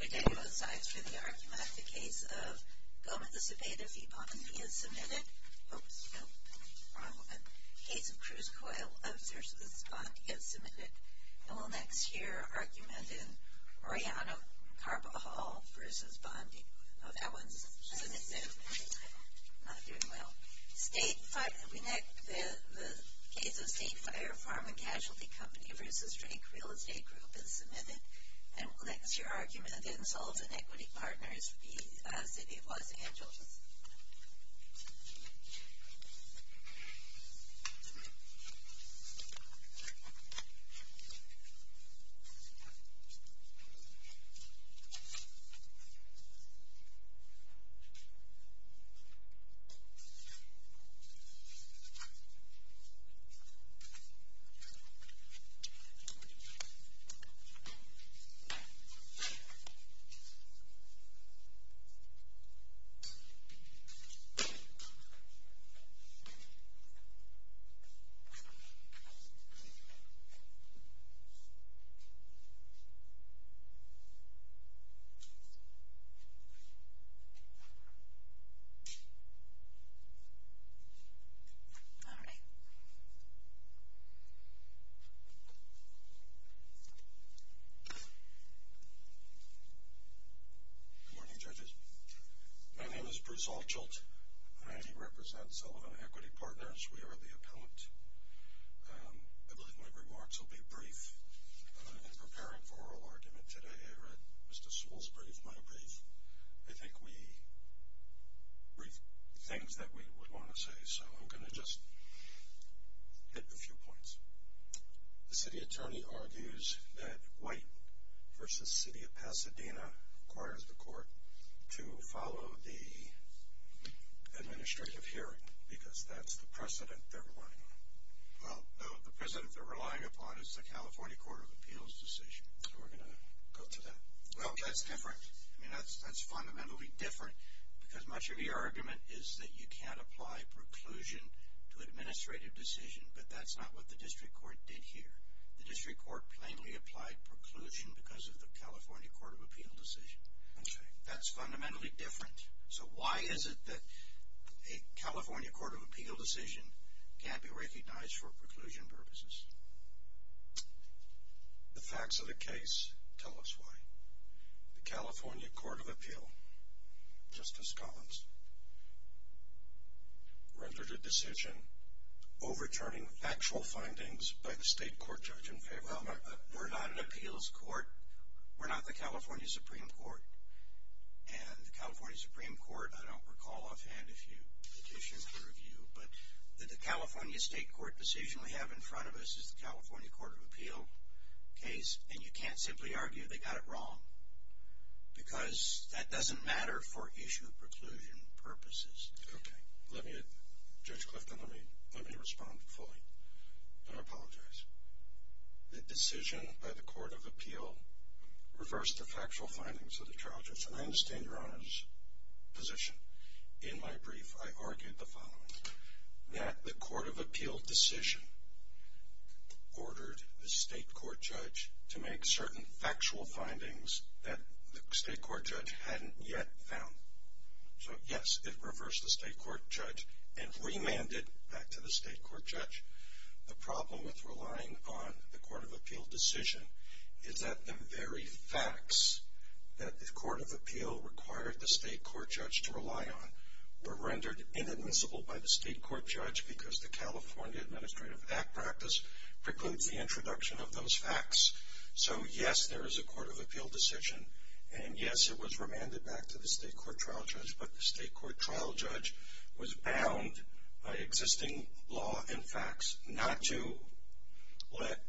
We thank both sides for the argument. The case of Gomez-Cebeda v. Bondi is submitted. Oops, wrong one. The case of Cruz-Coyle v. Bondi is submitted. And we'll next hear an argument in Orellano-Carpa Hall v. Bondi. Oh, that one's just an example. Not doing well. The case of State Fire, Farm and Casualty Company v. Drake Real Estate Group is submitted. And we'll next hear an argument in Salt and Equity Partners v. City of Los Angeles. All right. Good morning, judges. My name is Bruce Altshult. I represent Sullivan Equity Partners. We are the appellant. I believe my remarks will be brief. In preparing for oral argument today, I read Mr. Sewell's brief, my brief. I think we briefed things that we would want to say, so I'm going to just hit a few points. The city attorney argues that White v. City of Pasadena requires the court to follow the administrative hearing because that's the precedent they're relying on. Well, no, the precedent they're relying upon is the California Court of Appeals decision. So we're going to go to that. Well, that's different. I mean, that's fundamentally different because much of your argument is that you can't apply preclusion to administrative decision, but that's not what the district court did here. The district court plainly applied preclusion because of the California Court of Appeals decision. Okay. That's fundamentally different. So why is it that a California Court of Appeals decision can't be recognized for preclusion purposes? The facts of the case tell us why. The California Court of Appeals, Justice Collins, rendered a decision overturning factual findings by the state court judge in favor. We're not an appeals court. We're not the California Supreme Court, and the California Supreme Court, I don't recall offhand if you petitioned for review, but the California state court decision we have in front of us is the California Court of Appeals case, and you can't simply argue they got it wrong because that doesn't matter for issue of preclusion purposes. Okay. Judge Clifton, let me respond fully, and I apologize. The decision by the Court of Appeals reversed the factual findings of the charges, and I understand Your Honor's position. In my brief, I argued the following. That the Court of Appeals decision ordered the state court judge to make certain factual findings that the state court judge hadn't yet found. So, yes, it reversed the state court judge and remanded back to the state court judge. The problem with relying on the Court of Appeals decision is that the very facts that the Court of Appeals required the state court judge to rely on were rendered inadmissible by the state court judge because the California Administrative Act practice precludes the introduction of those facts. So, yes, there is a Court of Appeals decision, and yes, it was remanded back to the state court trial judge, but the state court trial judge was bound by existing law and facts not to let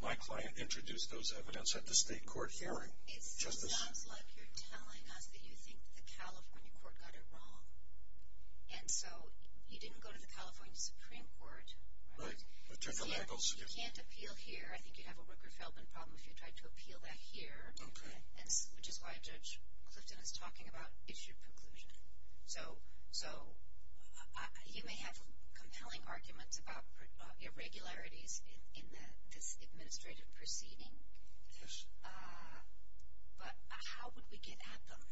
my client introduce those evidence at the state court hearing. It sounds like you're telling us that you think the California court got it wrong, and so you didn't go to the California Supreme Court. You can't appeal here. I think you'd have a Rooker-Feldman problem if you tried to appeal that here, which is why Judge Clifton is talking about issued preclusion. So you may have compelling arguments about irregularities in this administrative proceeding, but how would we get at them?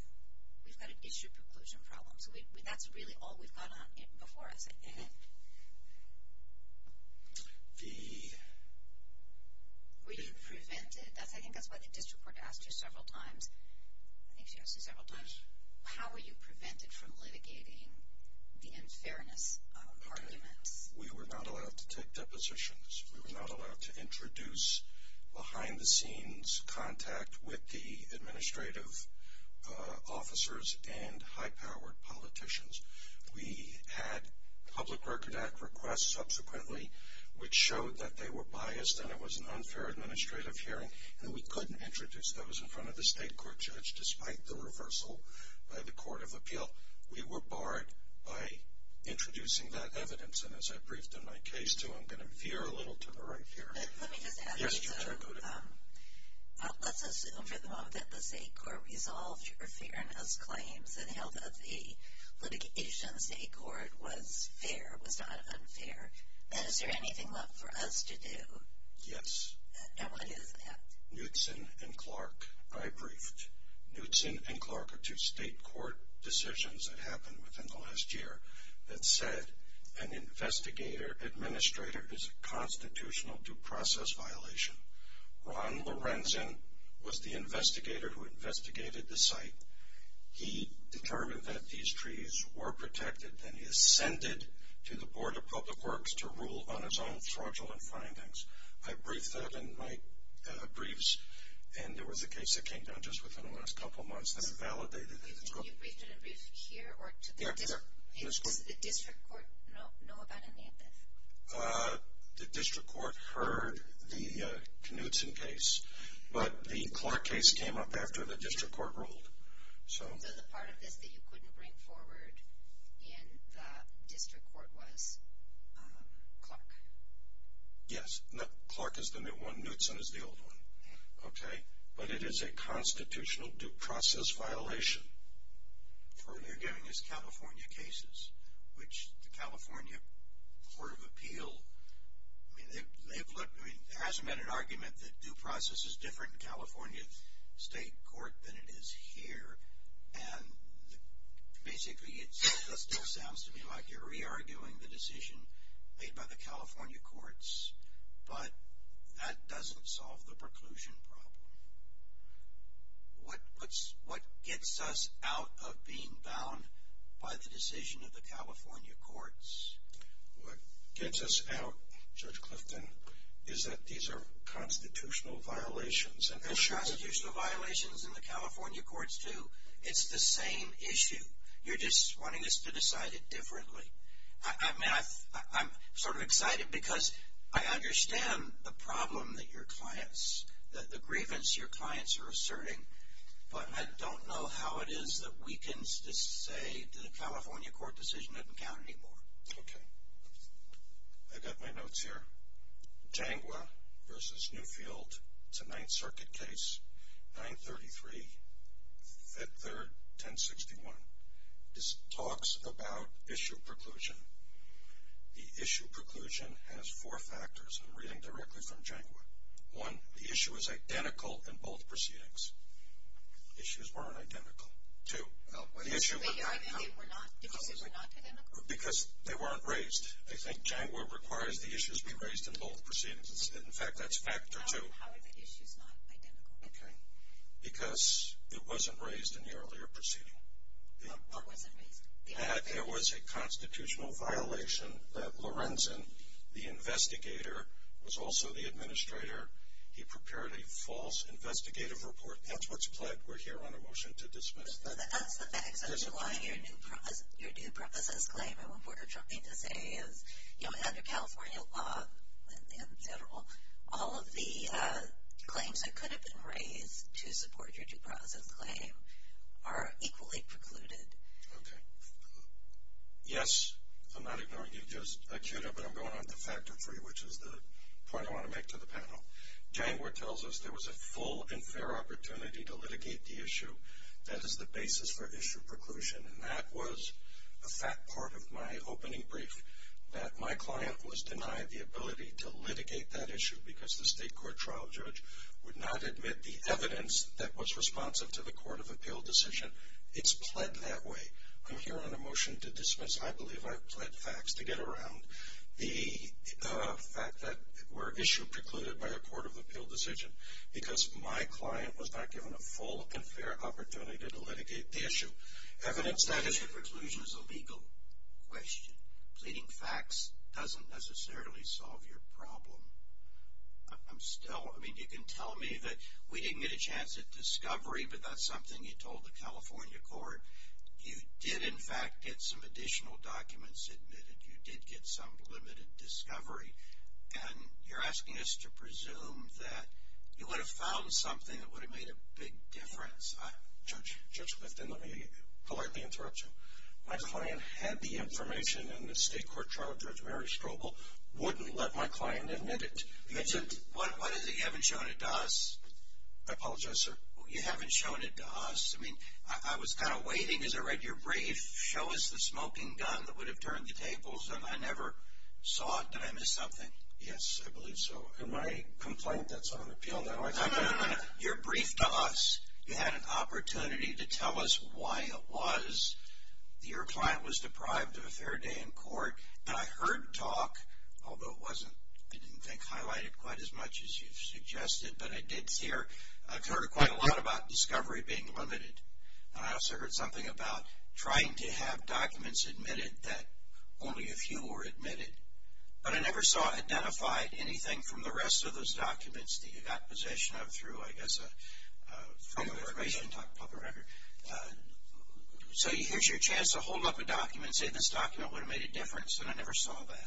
We've got an issued preclusion problem. So that's really all we've got before us, I think. Were you prevented? I think that's why the district court asked you several times. I think she asked you several times. How were you prevented from litigating the unfairness of arguments? We were not allowed to take depositions. We were not allowed to introduce behind-the-scenes contact with the administrative officers and high-powered politicians. We had Public Record Act requests subsequently, which showed that they were biased and it was an unfair administrative hearing, and we couldn't introduce those in front of the state court judge despite the reversal by the Court of Appeal. We were barred by introducing that evidence, and as I briefed in my case, too, I'm going to veer a little to the right here. Let me just add to that. Let's assume for the moment that the state court resolved your fairness claims and held that the litigation state court was fair, was not unfair. Is there anything left for us to do? Yes. And what is that? Knutson and Clark, I briefed. Knutson and Clark are two state court decisions that happened within the last year that said an investigator, administrator, is a constitutional due process violation. Ron Lorenzen was the investigator who investigated the site. He determined that these trees were protected, and he ascended to the Board of Public Works to rule on his own fraudulent findings. I briefed that in my briefs, and there was a case that came down just within the last couple of months that validated it. Can you brief here or to the district? Does the district court know about any of this? The district court heard the Knutson case, but the Clark case came up after the district court ruled. So the part of this that you couldn't bring forward in the district court was Clark? Yes. Clark is the new one. Knutson is the old one. Okay. But it is a constitutional due process violation. What you're giving is California cases, which the California Court of Appeal, I mean, they've looked. I mean, there hasn't been an argument that due process is different in California State Court than it is here, and basically it still sounds to me like you're re-arguing the decision made by the California courts, but that doesn't solve the preclusion problem. What gets us out of being bound by the decision of the California courts? What gets us out, Judge Clifton, is that these are constitutional violations. There are constitutional violations in the California courts too. It's the same issue. You're just wanting us to decide it differently. I mean, I'm sort of excited because I understand the problem that your clients, that the grievance your clients are asserting, but I don't know how it is that weakens to say the California court decision doesn't count anymore. Okay. I've got my notes here. Tangua versus Newfield, it's a Ninth Circuit case, 933, 5th, 3rd, 1061. This talks about issue preclusion. The issue preclusion has four factors. I'm reading directly from Tangua. One, the issue is identical in both proceedings. Issues weren't identical. Two, the issue was not. Did you say they were not identical? Because they weren't raised. I think Tangua requires the issues be raised in both proceedings. In fact, that's factor two. How are the issues not identical? Okay. Because it wasn't raised in the earlier proceeding. What wasn't raised? That there was a constitutional violation that Lorenzen, the investigator, was also the administrator. He prepared a false investigative report. That's what's pled. We're here on a motion to dismiss that. That's the facts underlying your new premises claim. And what we're trying to say is, you know, under California law and federal, all of the claims that could have been raised to support your new premises claim are equally precluded. Okay. Yes. I'm not ignoring you, Joseph. But I'm going on to factor three, which is the point I want to make to the panel. Tangua tells us there was a full and fair opportunity to litigate the issue. That is the basis for issue preclusion. And that was a fact part of my opening brief, that my client was denied the ability to litigate that issue because the state court trial judge would not admit the evidence that was responsive to the court of appeal decision. It's pled that way. I'm here on a motion to dismiss. I believe I've pled facts to get around the fact that we're issue precluded by the court of appeal decision because my client was not given a full and fair opportunity to litigate the issue. Evidence that issue preclusion is a legal question. Pleading facts doesn't necessarily solve your problem. I'm still, I mean, you can tell me that we didn't get a chance at discovery, but that's something you told the California court. You did, in fact, get some additional documents admitted. You did get some limited discovery. And you're asking us to presume that you would have found something that would have made a big difference. Judge Clifton, let me politely interrupt you. My client had the information in the state court trial judge, Mary Strobel, wouldn't let my client admit it. You haven't shown it to us. I apologize, sir. You haven't shown it to us. I mean, I was kind of waiting as I read your brief. Show us the smoking gun that would have turned the tables, and I never saw it. Did I miss something? Yes, I believe so. In my complaint, that's on appeal. You're brief to us. You had an opportunity to tell us why it was that your client was deprived of a fair day in court. And I heard talk, although it wasn't, I didn't think, highlighted quite as much as you've suggested, but I did hear, I've heard quite a lot about discovery being limited. And I also heard something about trying to have documents admitted that only a few were admitted. But I never saw identified anything from the rest of those documents that you got possession of through, I guess, a form of information, public record. So here's your chance to hold up a document and say this document would have made a difference, and I never saw that.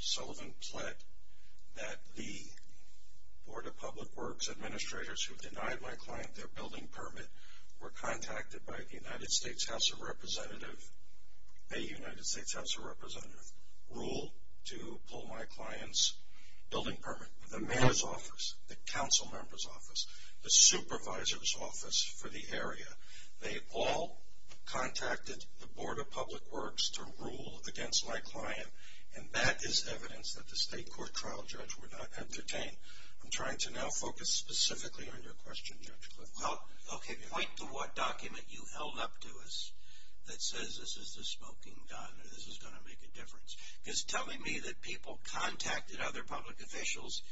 Sullivan pled that the Board of Public Works administrators who denied my client their building permit were contacted by the United States House of Representatives, a United States House of Representatives, ruled to pull my client's building permit. The mayor's office, the council member's office, the supervisor's office for the area, they all contacted the Board of Public Works to rule against my client, and that is evidence that the state court trial judge would not entertain. I'm trying to now focus specifically on your question, Judge Clifford. Well, okay, point to what document you held up to us that says this is the smoking gun and this is going to make a difference. Because telling me that people contacted other public officials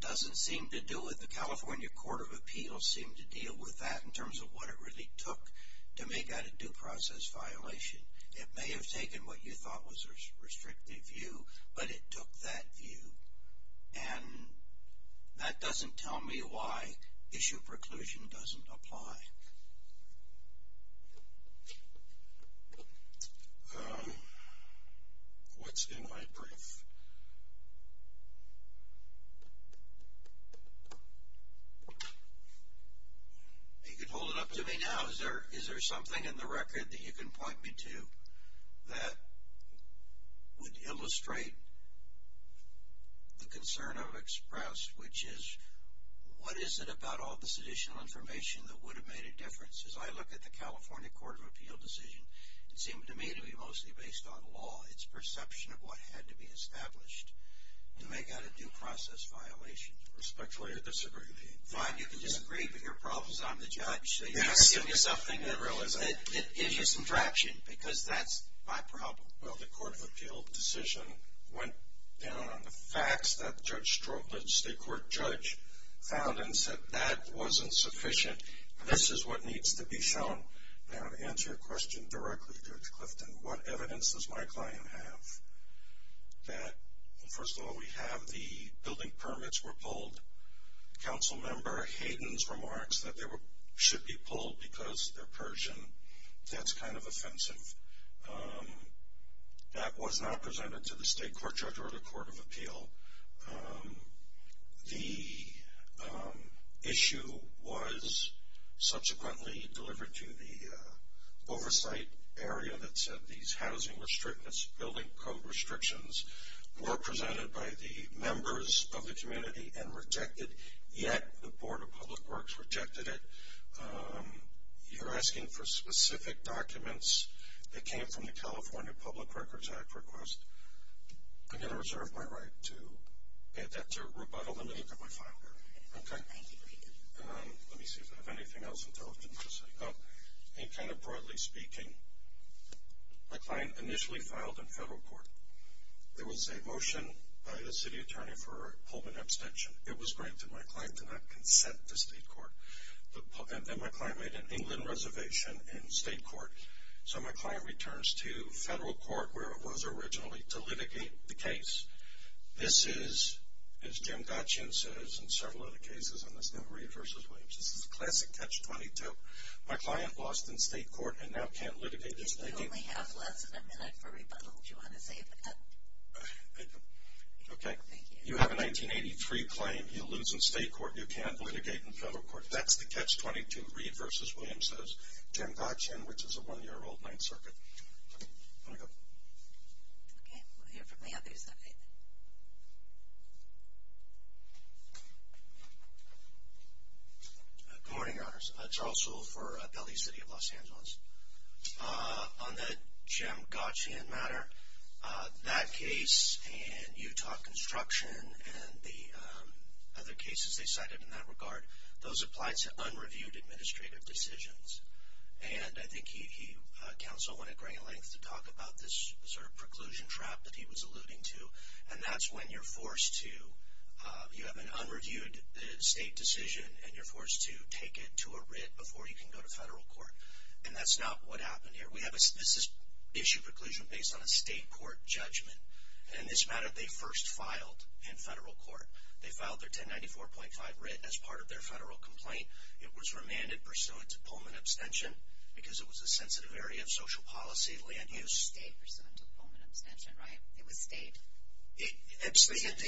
doesn't seem to do it. The California Court of Appeals seemed to deal with that in terms of what it really took to make that a due process violation. It may have taken what you thought was a restrictive view, but it took that view. And that doesn't tell me why issue preclusion doesn't apply. What's in my brief? You can hold it up to me now. Is there something in the record that you can point me to that would illustrate the concern I've expressed, which is what is it about all this additional information that would have made a difference? As I look at the California Court of Appeals decision, it seemed to me to be mostly based on law, its perception of what had to be established. To make that a due process violation. Respectfully, I disagree with you. Fine, you can disagree, but your problem is I'm the judge. So you have to give me something that gives you some traction, because that's my problem. Well, the Court of Appeals decision went down on the facts that the state court judge found and said that wasn't sufficient. This is what needs to be shown. Now to answer your question directly, Judge Clifton, what evidence does my client have that, first of all, we have the building permits were pulled. Council member Hayden's remarks that they should be pulled because they're Persian. That's kind of offensive. That was not presented to the state court judge or the Court of Appeal. The issue was subsequently delivered to the oversight area that said these housing restrictions, building code restrictions were presented by the members of the community and rejected, yet the Board of Public Works rejected it. You're asking for specific documents that came from the California Public Records Act request. I'm going to reserve my right to add that to a rebuttal. Let me look at my file here. Okay. Let me see if I have anything else intelligent to say. Kind of broadly speaking, my client initially filed in federal court. There was a motion by the city attorney for a Pullman abstention. It was granted. My client did not consent to state court, and my client made an England reservation in state court. So my client returns to federal court where it was originally to litigate the case. This is, as Jim Gatchin says in several other cases, and this is now Reed v. Williams. This is a classic catch-22. My client lost in state court and now can't litigate in federal court. You only have less than a minute for rebuttal. Do you want to save that? Okay. You have a 1983 claim. You lose in state court. You can't litigate in federal court. That's the catch-22. Reed v. Williams says Jim Gatchin, which is a 1-year-old, 9th Circuit. Want to go? Okay. We'll hear from the other side. Good morning, Your Honors. Charles Sewell for Bellevue City of Los Angeles. On the Jim Gatchin matter, that case and Utah Construction and the other cases they cited in that regard, those applied to unreviewed administrative decisions. And I think he counseled one at great length to talk about this sort of preclusion trap that he was alluding to. And that's when you're forced to – you have an unreviewed state decision and you're forced to take it to a writ before you can go to federal court. And that's not what happened here. This is issue preclusion based on a state court judgment. In this matter, they first filed in federal court. They filed their 1094.5 writ as part of their federal complaint. It was remanded pursuant to Pullman abstention because it was a sensitive area of social policy land use. It was stayed pursuant to Pullman abstention, right? It was stayed?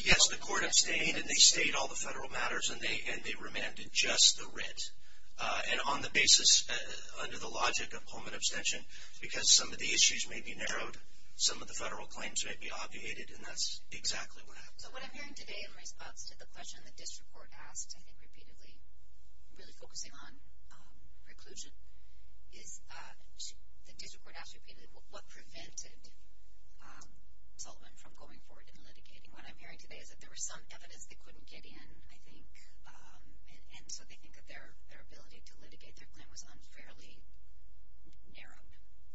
Yes, the court abstained and they stayed all the federal matters and they remanded just the writ. And on the basis, under the logic of Pullman abstention, because some of the issues may be narrowed, some of the federal claims may be obviated, and that's exactly what happened. So what I'm hearing today in response to the question the district court asked, I think repeatedly, really focusing on preclusion, is the district court asked repeatedly what prevented Sullivan from going forward in litigating. What I'm hearing today is that there was some evidence they couldn't get in, I think, and so they think that their ability to litigate their claim was unfairly narrowed.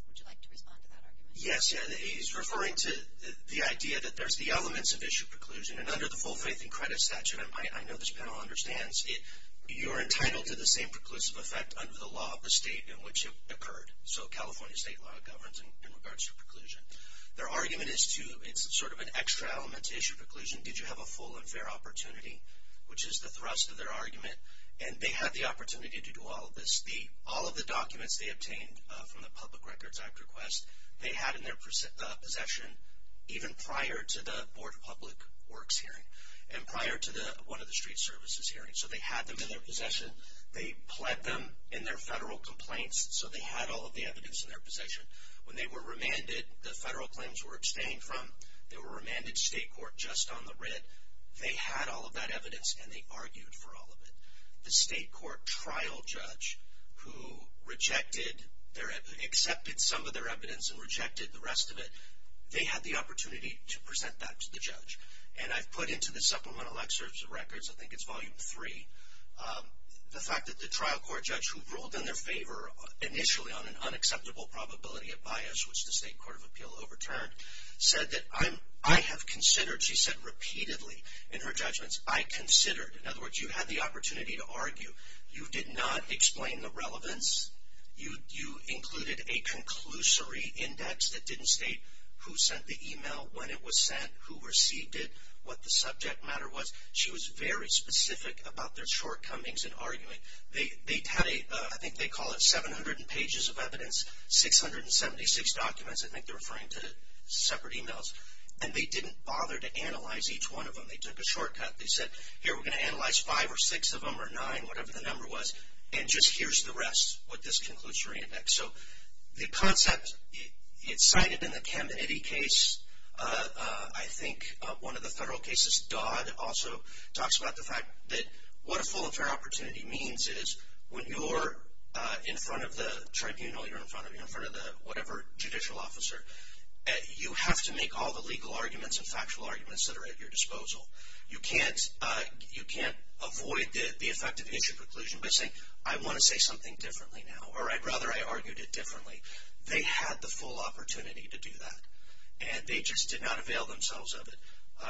Would you like to respond to that argument? Yes, he's referring to the idea that there's the elements of issue preclusion, and under the full faith and credit statute, I know this panel understands, you're entitled to the same preclusive effect under the law of the state in which it occurred. So California state law governs in regards to preclusion. Their argument is to, it's sort of an extra element to issue preclusion, did you have a full and fair opportunity, which is the thrust of their argument, and they had the opportunity to do all of this. All of the documents they obtained from the Public Records Act request, they had in their possession even prior to the Board of Public Works hearing and prior to one of the street services hearings, so they had them in their possession. They pled them in their federal complaints, so they had all of the evidence in their possession. When they were remanded, the federal claims were abstained from. They were remanded to state court just on the writ. They had all of that evidence, and they argued for all of it. The state court trial judge who accepted some of their evidence and rejected the rest of it, they had the opportunity to present that to the judge. And I've put into the Supplemental Excerpts of Records, I think it's Volume 3, the fact that the trial court judge who ruled in their favor initially on an unacceptable probability of bias, which the state court of appeal overturned, said that, I have considered, she said repeatedly in her judgments, I considered. In other words, you had the opportunity to argue. You did not explain the relevance. You included a conclusory index that didn't state who sent the email, when it was sent, who received it, what the subject matter was. She was very specific about their shortcomings in argument. They had a, I think they call it 700 pages of evidence, 676 documents. I think they're referring to separate emails. And they didn't bother to analyze each one of them. They took a shortcut. They said, here, we're going to analyze five or six of them or nine, whatever the number was, and just here's the rest, what this conclusory index. So the concept, it's cited in the Camden-Itty case, I think one of the federal cases. Dodd also talks about the fact that what a full affair opportunity means is when you're in front of the tribunal, you're in front of whatever judicial officer, you have to make all the legal arguments and factual arguments that are at your disposal. You can't avoid the effect of issue preclusion by saying, I want to say something differently now, or I'd rather I argued it differently. They had the full opportunity to do that. And they just did not avail themselves of it.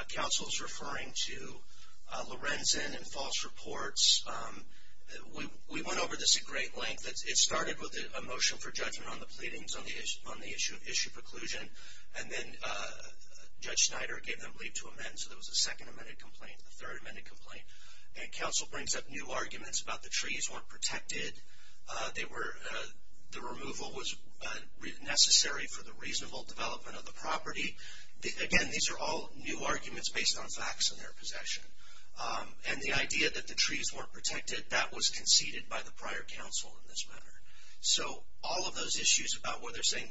Counsel is referring to Lorenzen and false reports. We went over this at great length. It started with a motion for judgment on the pleadings on the issue of issue preclusion, and then Judge Snyder gave them leave to amend, so there was a second amended complaint, a third amended complaint. And counsel brings up new arguments about the trees weren't protected. The removal was necessary for the reasonable development of the property. Again, these are all new arguments based on facts and their possession. And the idea that the trees weren't protected, that was conceded by the prior counsel in this matter. So all of those issues about where they're saying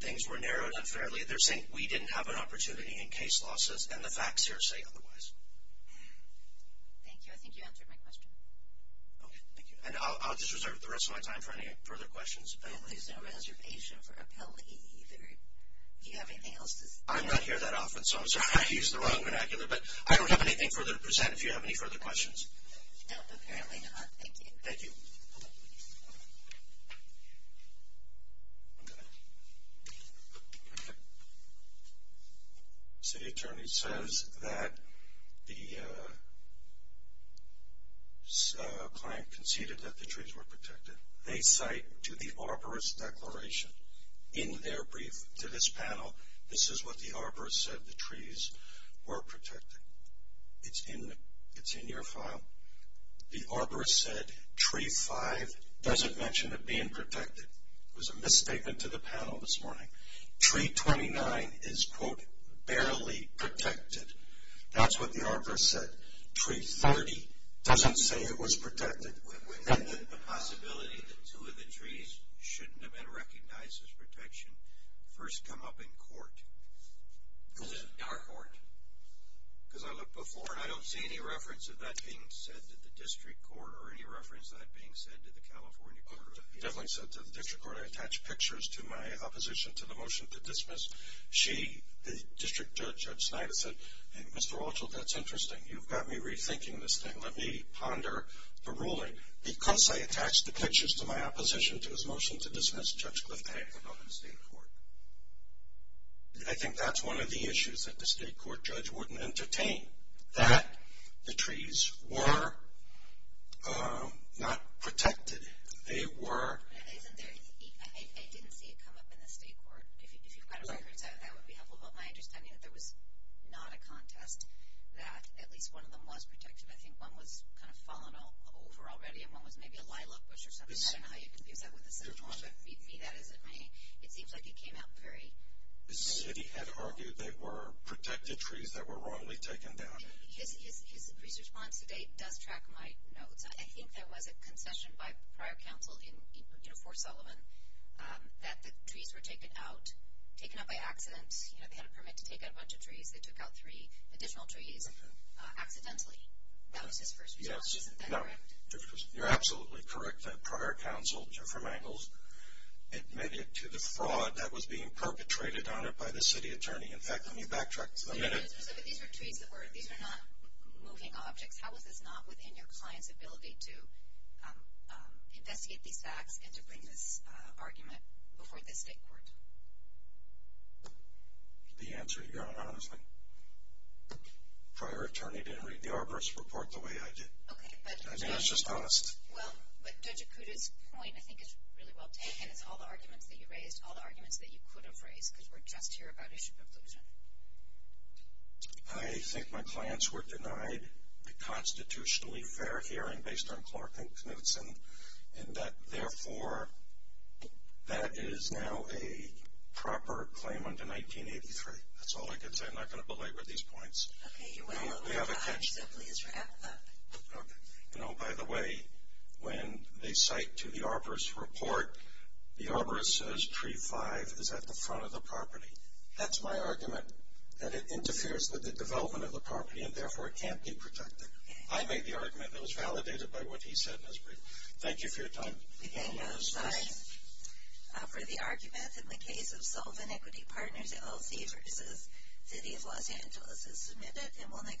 things were narrowed unfairly, they're saying we didn't have an opportunity in case losses, and the facts here say otherwise. Thank you. I think you answered my question. Okay, thank you. And I'll just reserve the rest of my time for any further questions. There's no reservation for appellee either. Do you have anything else to say? I'm not here that often, so I'm sorry I used the wrong vernacular, but I don't have anything further to present if you have any further questions. No, apparently not. Thank you. Thank you. The city attorney says that the client conceded that the trees were protected. They cite to the arborist's declaration in their brief to this panel, this is what the arborist said, the trees were protected. It's in your file. The arborist said tree 5 doesn't mention it being protected. It was a misstatement to the panel this morning. Tree 29 is, quote, barely protected. That's what the arborist said. Tree 30 doesn't say it was protected. The possibility that two of the trees shouldn't have been recognized as protection first come up in court. Our court. Because I looked before, and I don't see any reference of that being said to the district court or any reference of that being said to the California court. It definitely said to the district court. I attached pictures to my opposition to the motion to dismiss. The district judge, Judge Snyder, said, Mr. Walsh, that's interesting. You've got me rethinking this thing. Let me ponder the ruling. Because I attached the pictures to my opposition to his motion to dismiss, Judge Kliff tagged them up in the state court. I think that's one of the issues that the state court judge wouldn't entertain, that the trees were not protected. They were. I didn't see it come up in the state court. If you've got a record set up, that would be helpful. But my understanding is that there was not a contest that at least one of them was protected. I think one was kind of fallen over already, and one was maybe a lilac bush or something. I don't know how you can use that with a city law. That isn't me. It seems like it came out very vague. The city had argued they were protected trees that were wrongly taken down. His response to date does track my notes. I think there was a concession by prior counsel in Fort Sullivan that the trees were taken out, taken out by accident. You know, they had a permit to take out a bunch of trees. They took out three additional trees accidentally. That was his first response. Isn't that correct? You're absolutely correct. Prior counsel, Jeffrey Mangels, admitted to the fraud that was being perpetrated on it by the city attorney. In fact, let me backtrack for a minute. These were trees that were not moving objects. How was this not within your client's ability to investigate these facts and to bring this argument before the state court? The answer to that, honestly, prior attorney didn't read the arborist's report the way I did. I mean, it's just honest. Well, Judge Acuda's point, I think, is really well taken. It's all the arguments that you raised, all the arguments that you could have raised, because we're just here about issue of inclusion. I think my clients were denied the constitutionally fair hearing based on Clark and Knutson, and that, therefore, that is now a proper claimant in 1983. That's all I can say. I'm not going to belabor these points. Okay. You went a little bit behind, so please wrap up. Okay. You know, by the way, when they cite to the arborist's report, the arborist says tree five is at the front of the property. That's my argument, that it interferes with the development of the property, and, therefore, it can't be protected. I made the argument that was validated by what he said in his brief. Thank you for your time. Again, no signs for the argument in the case of Sullivan Equity Partners LLC versus City of Los Angeles is submitted.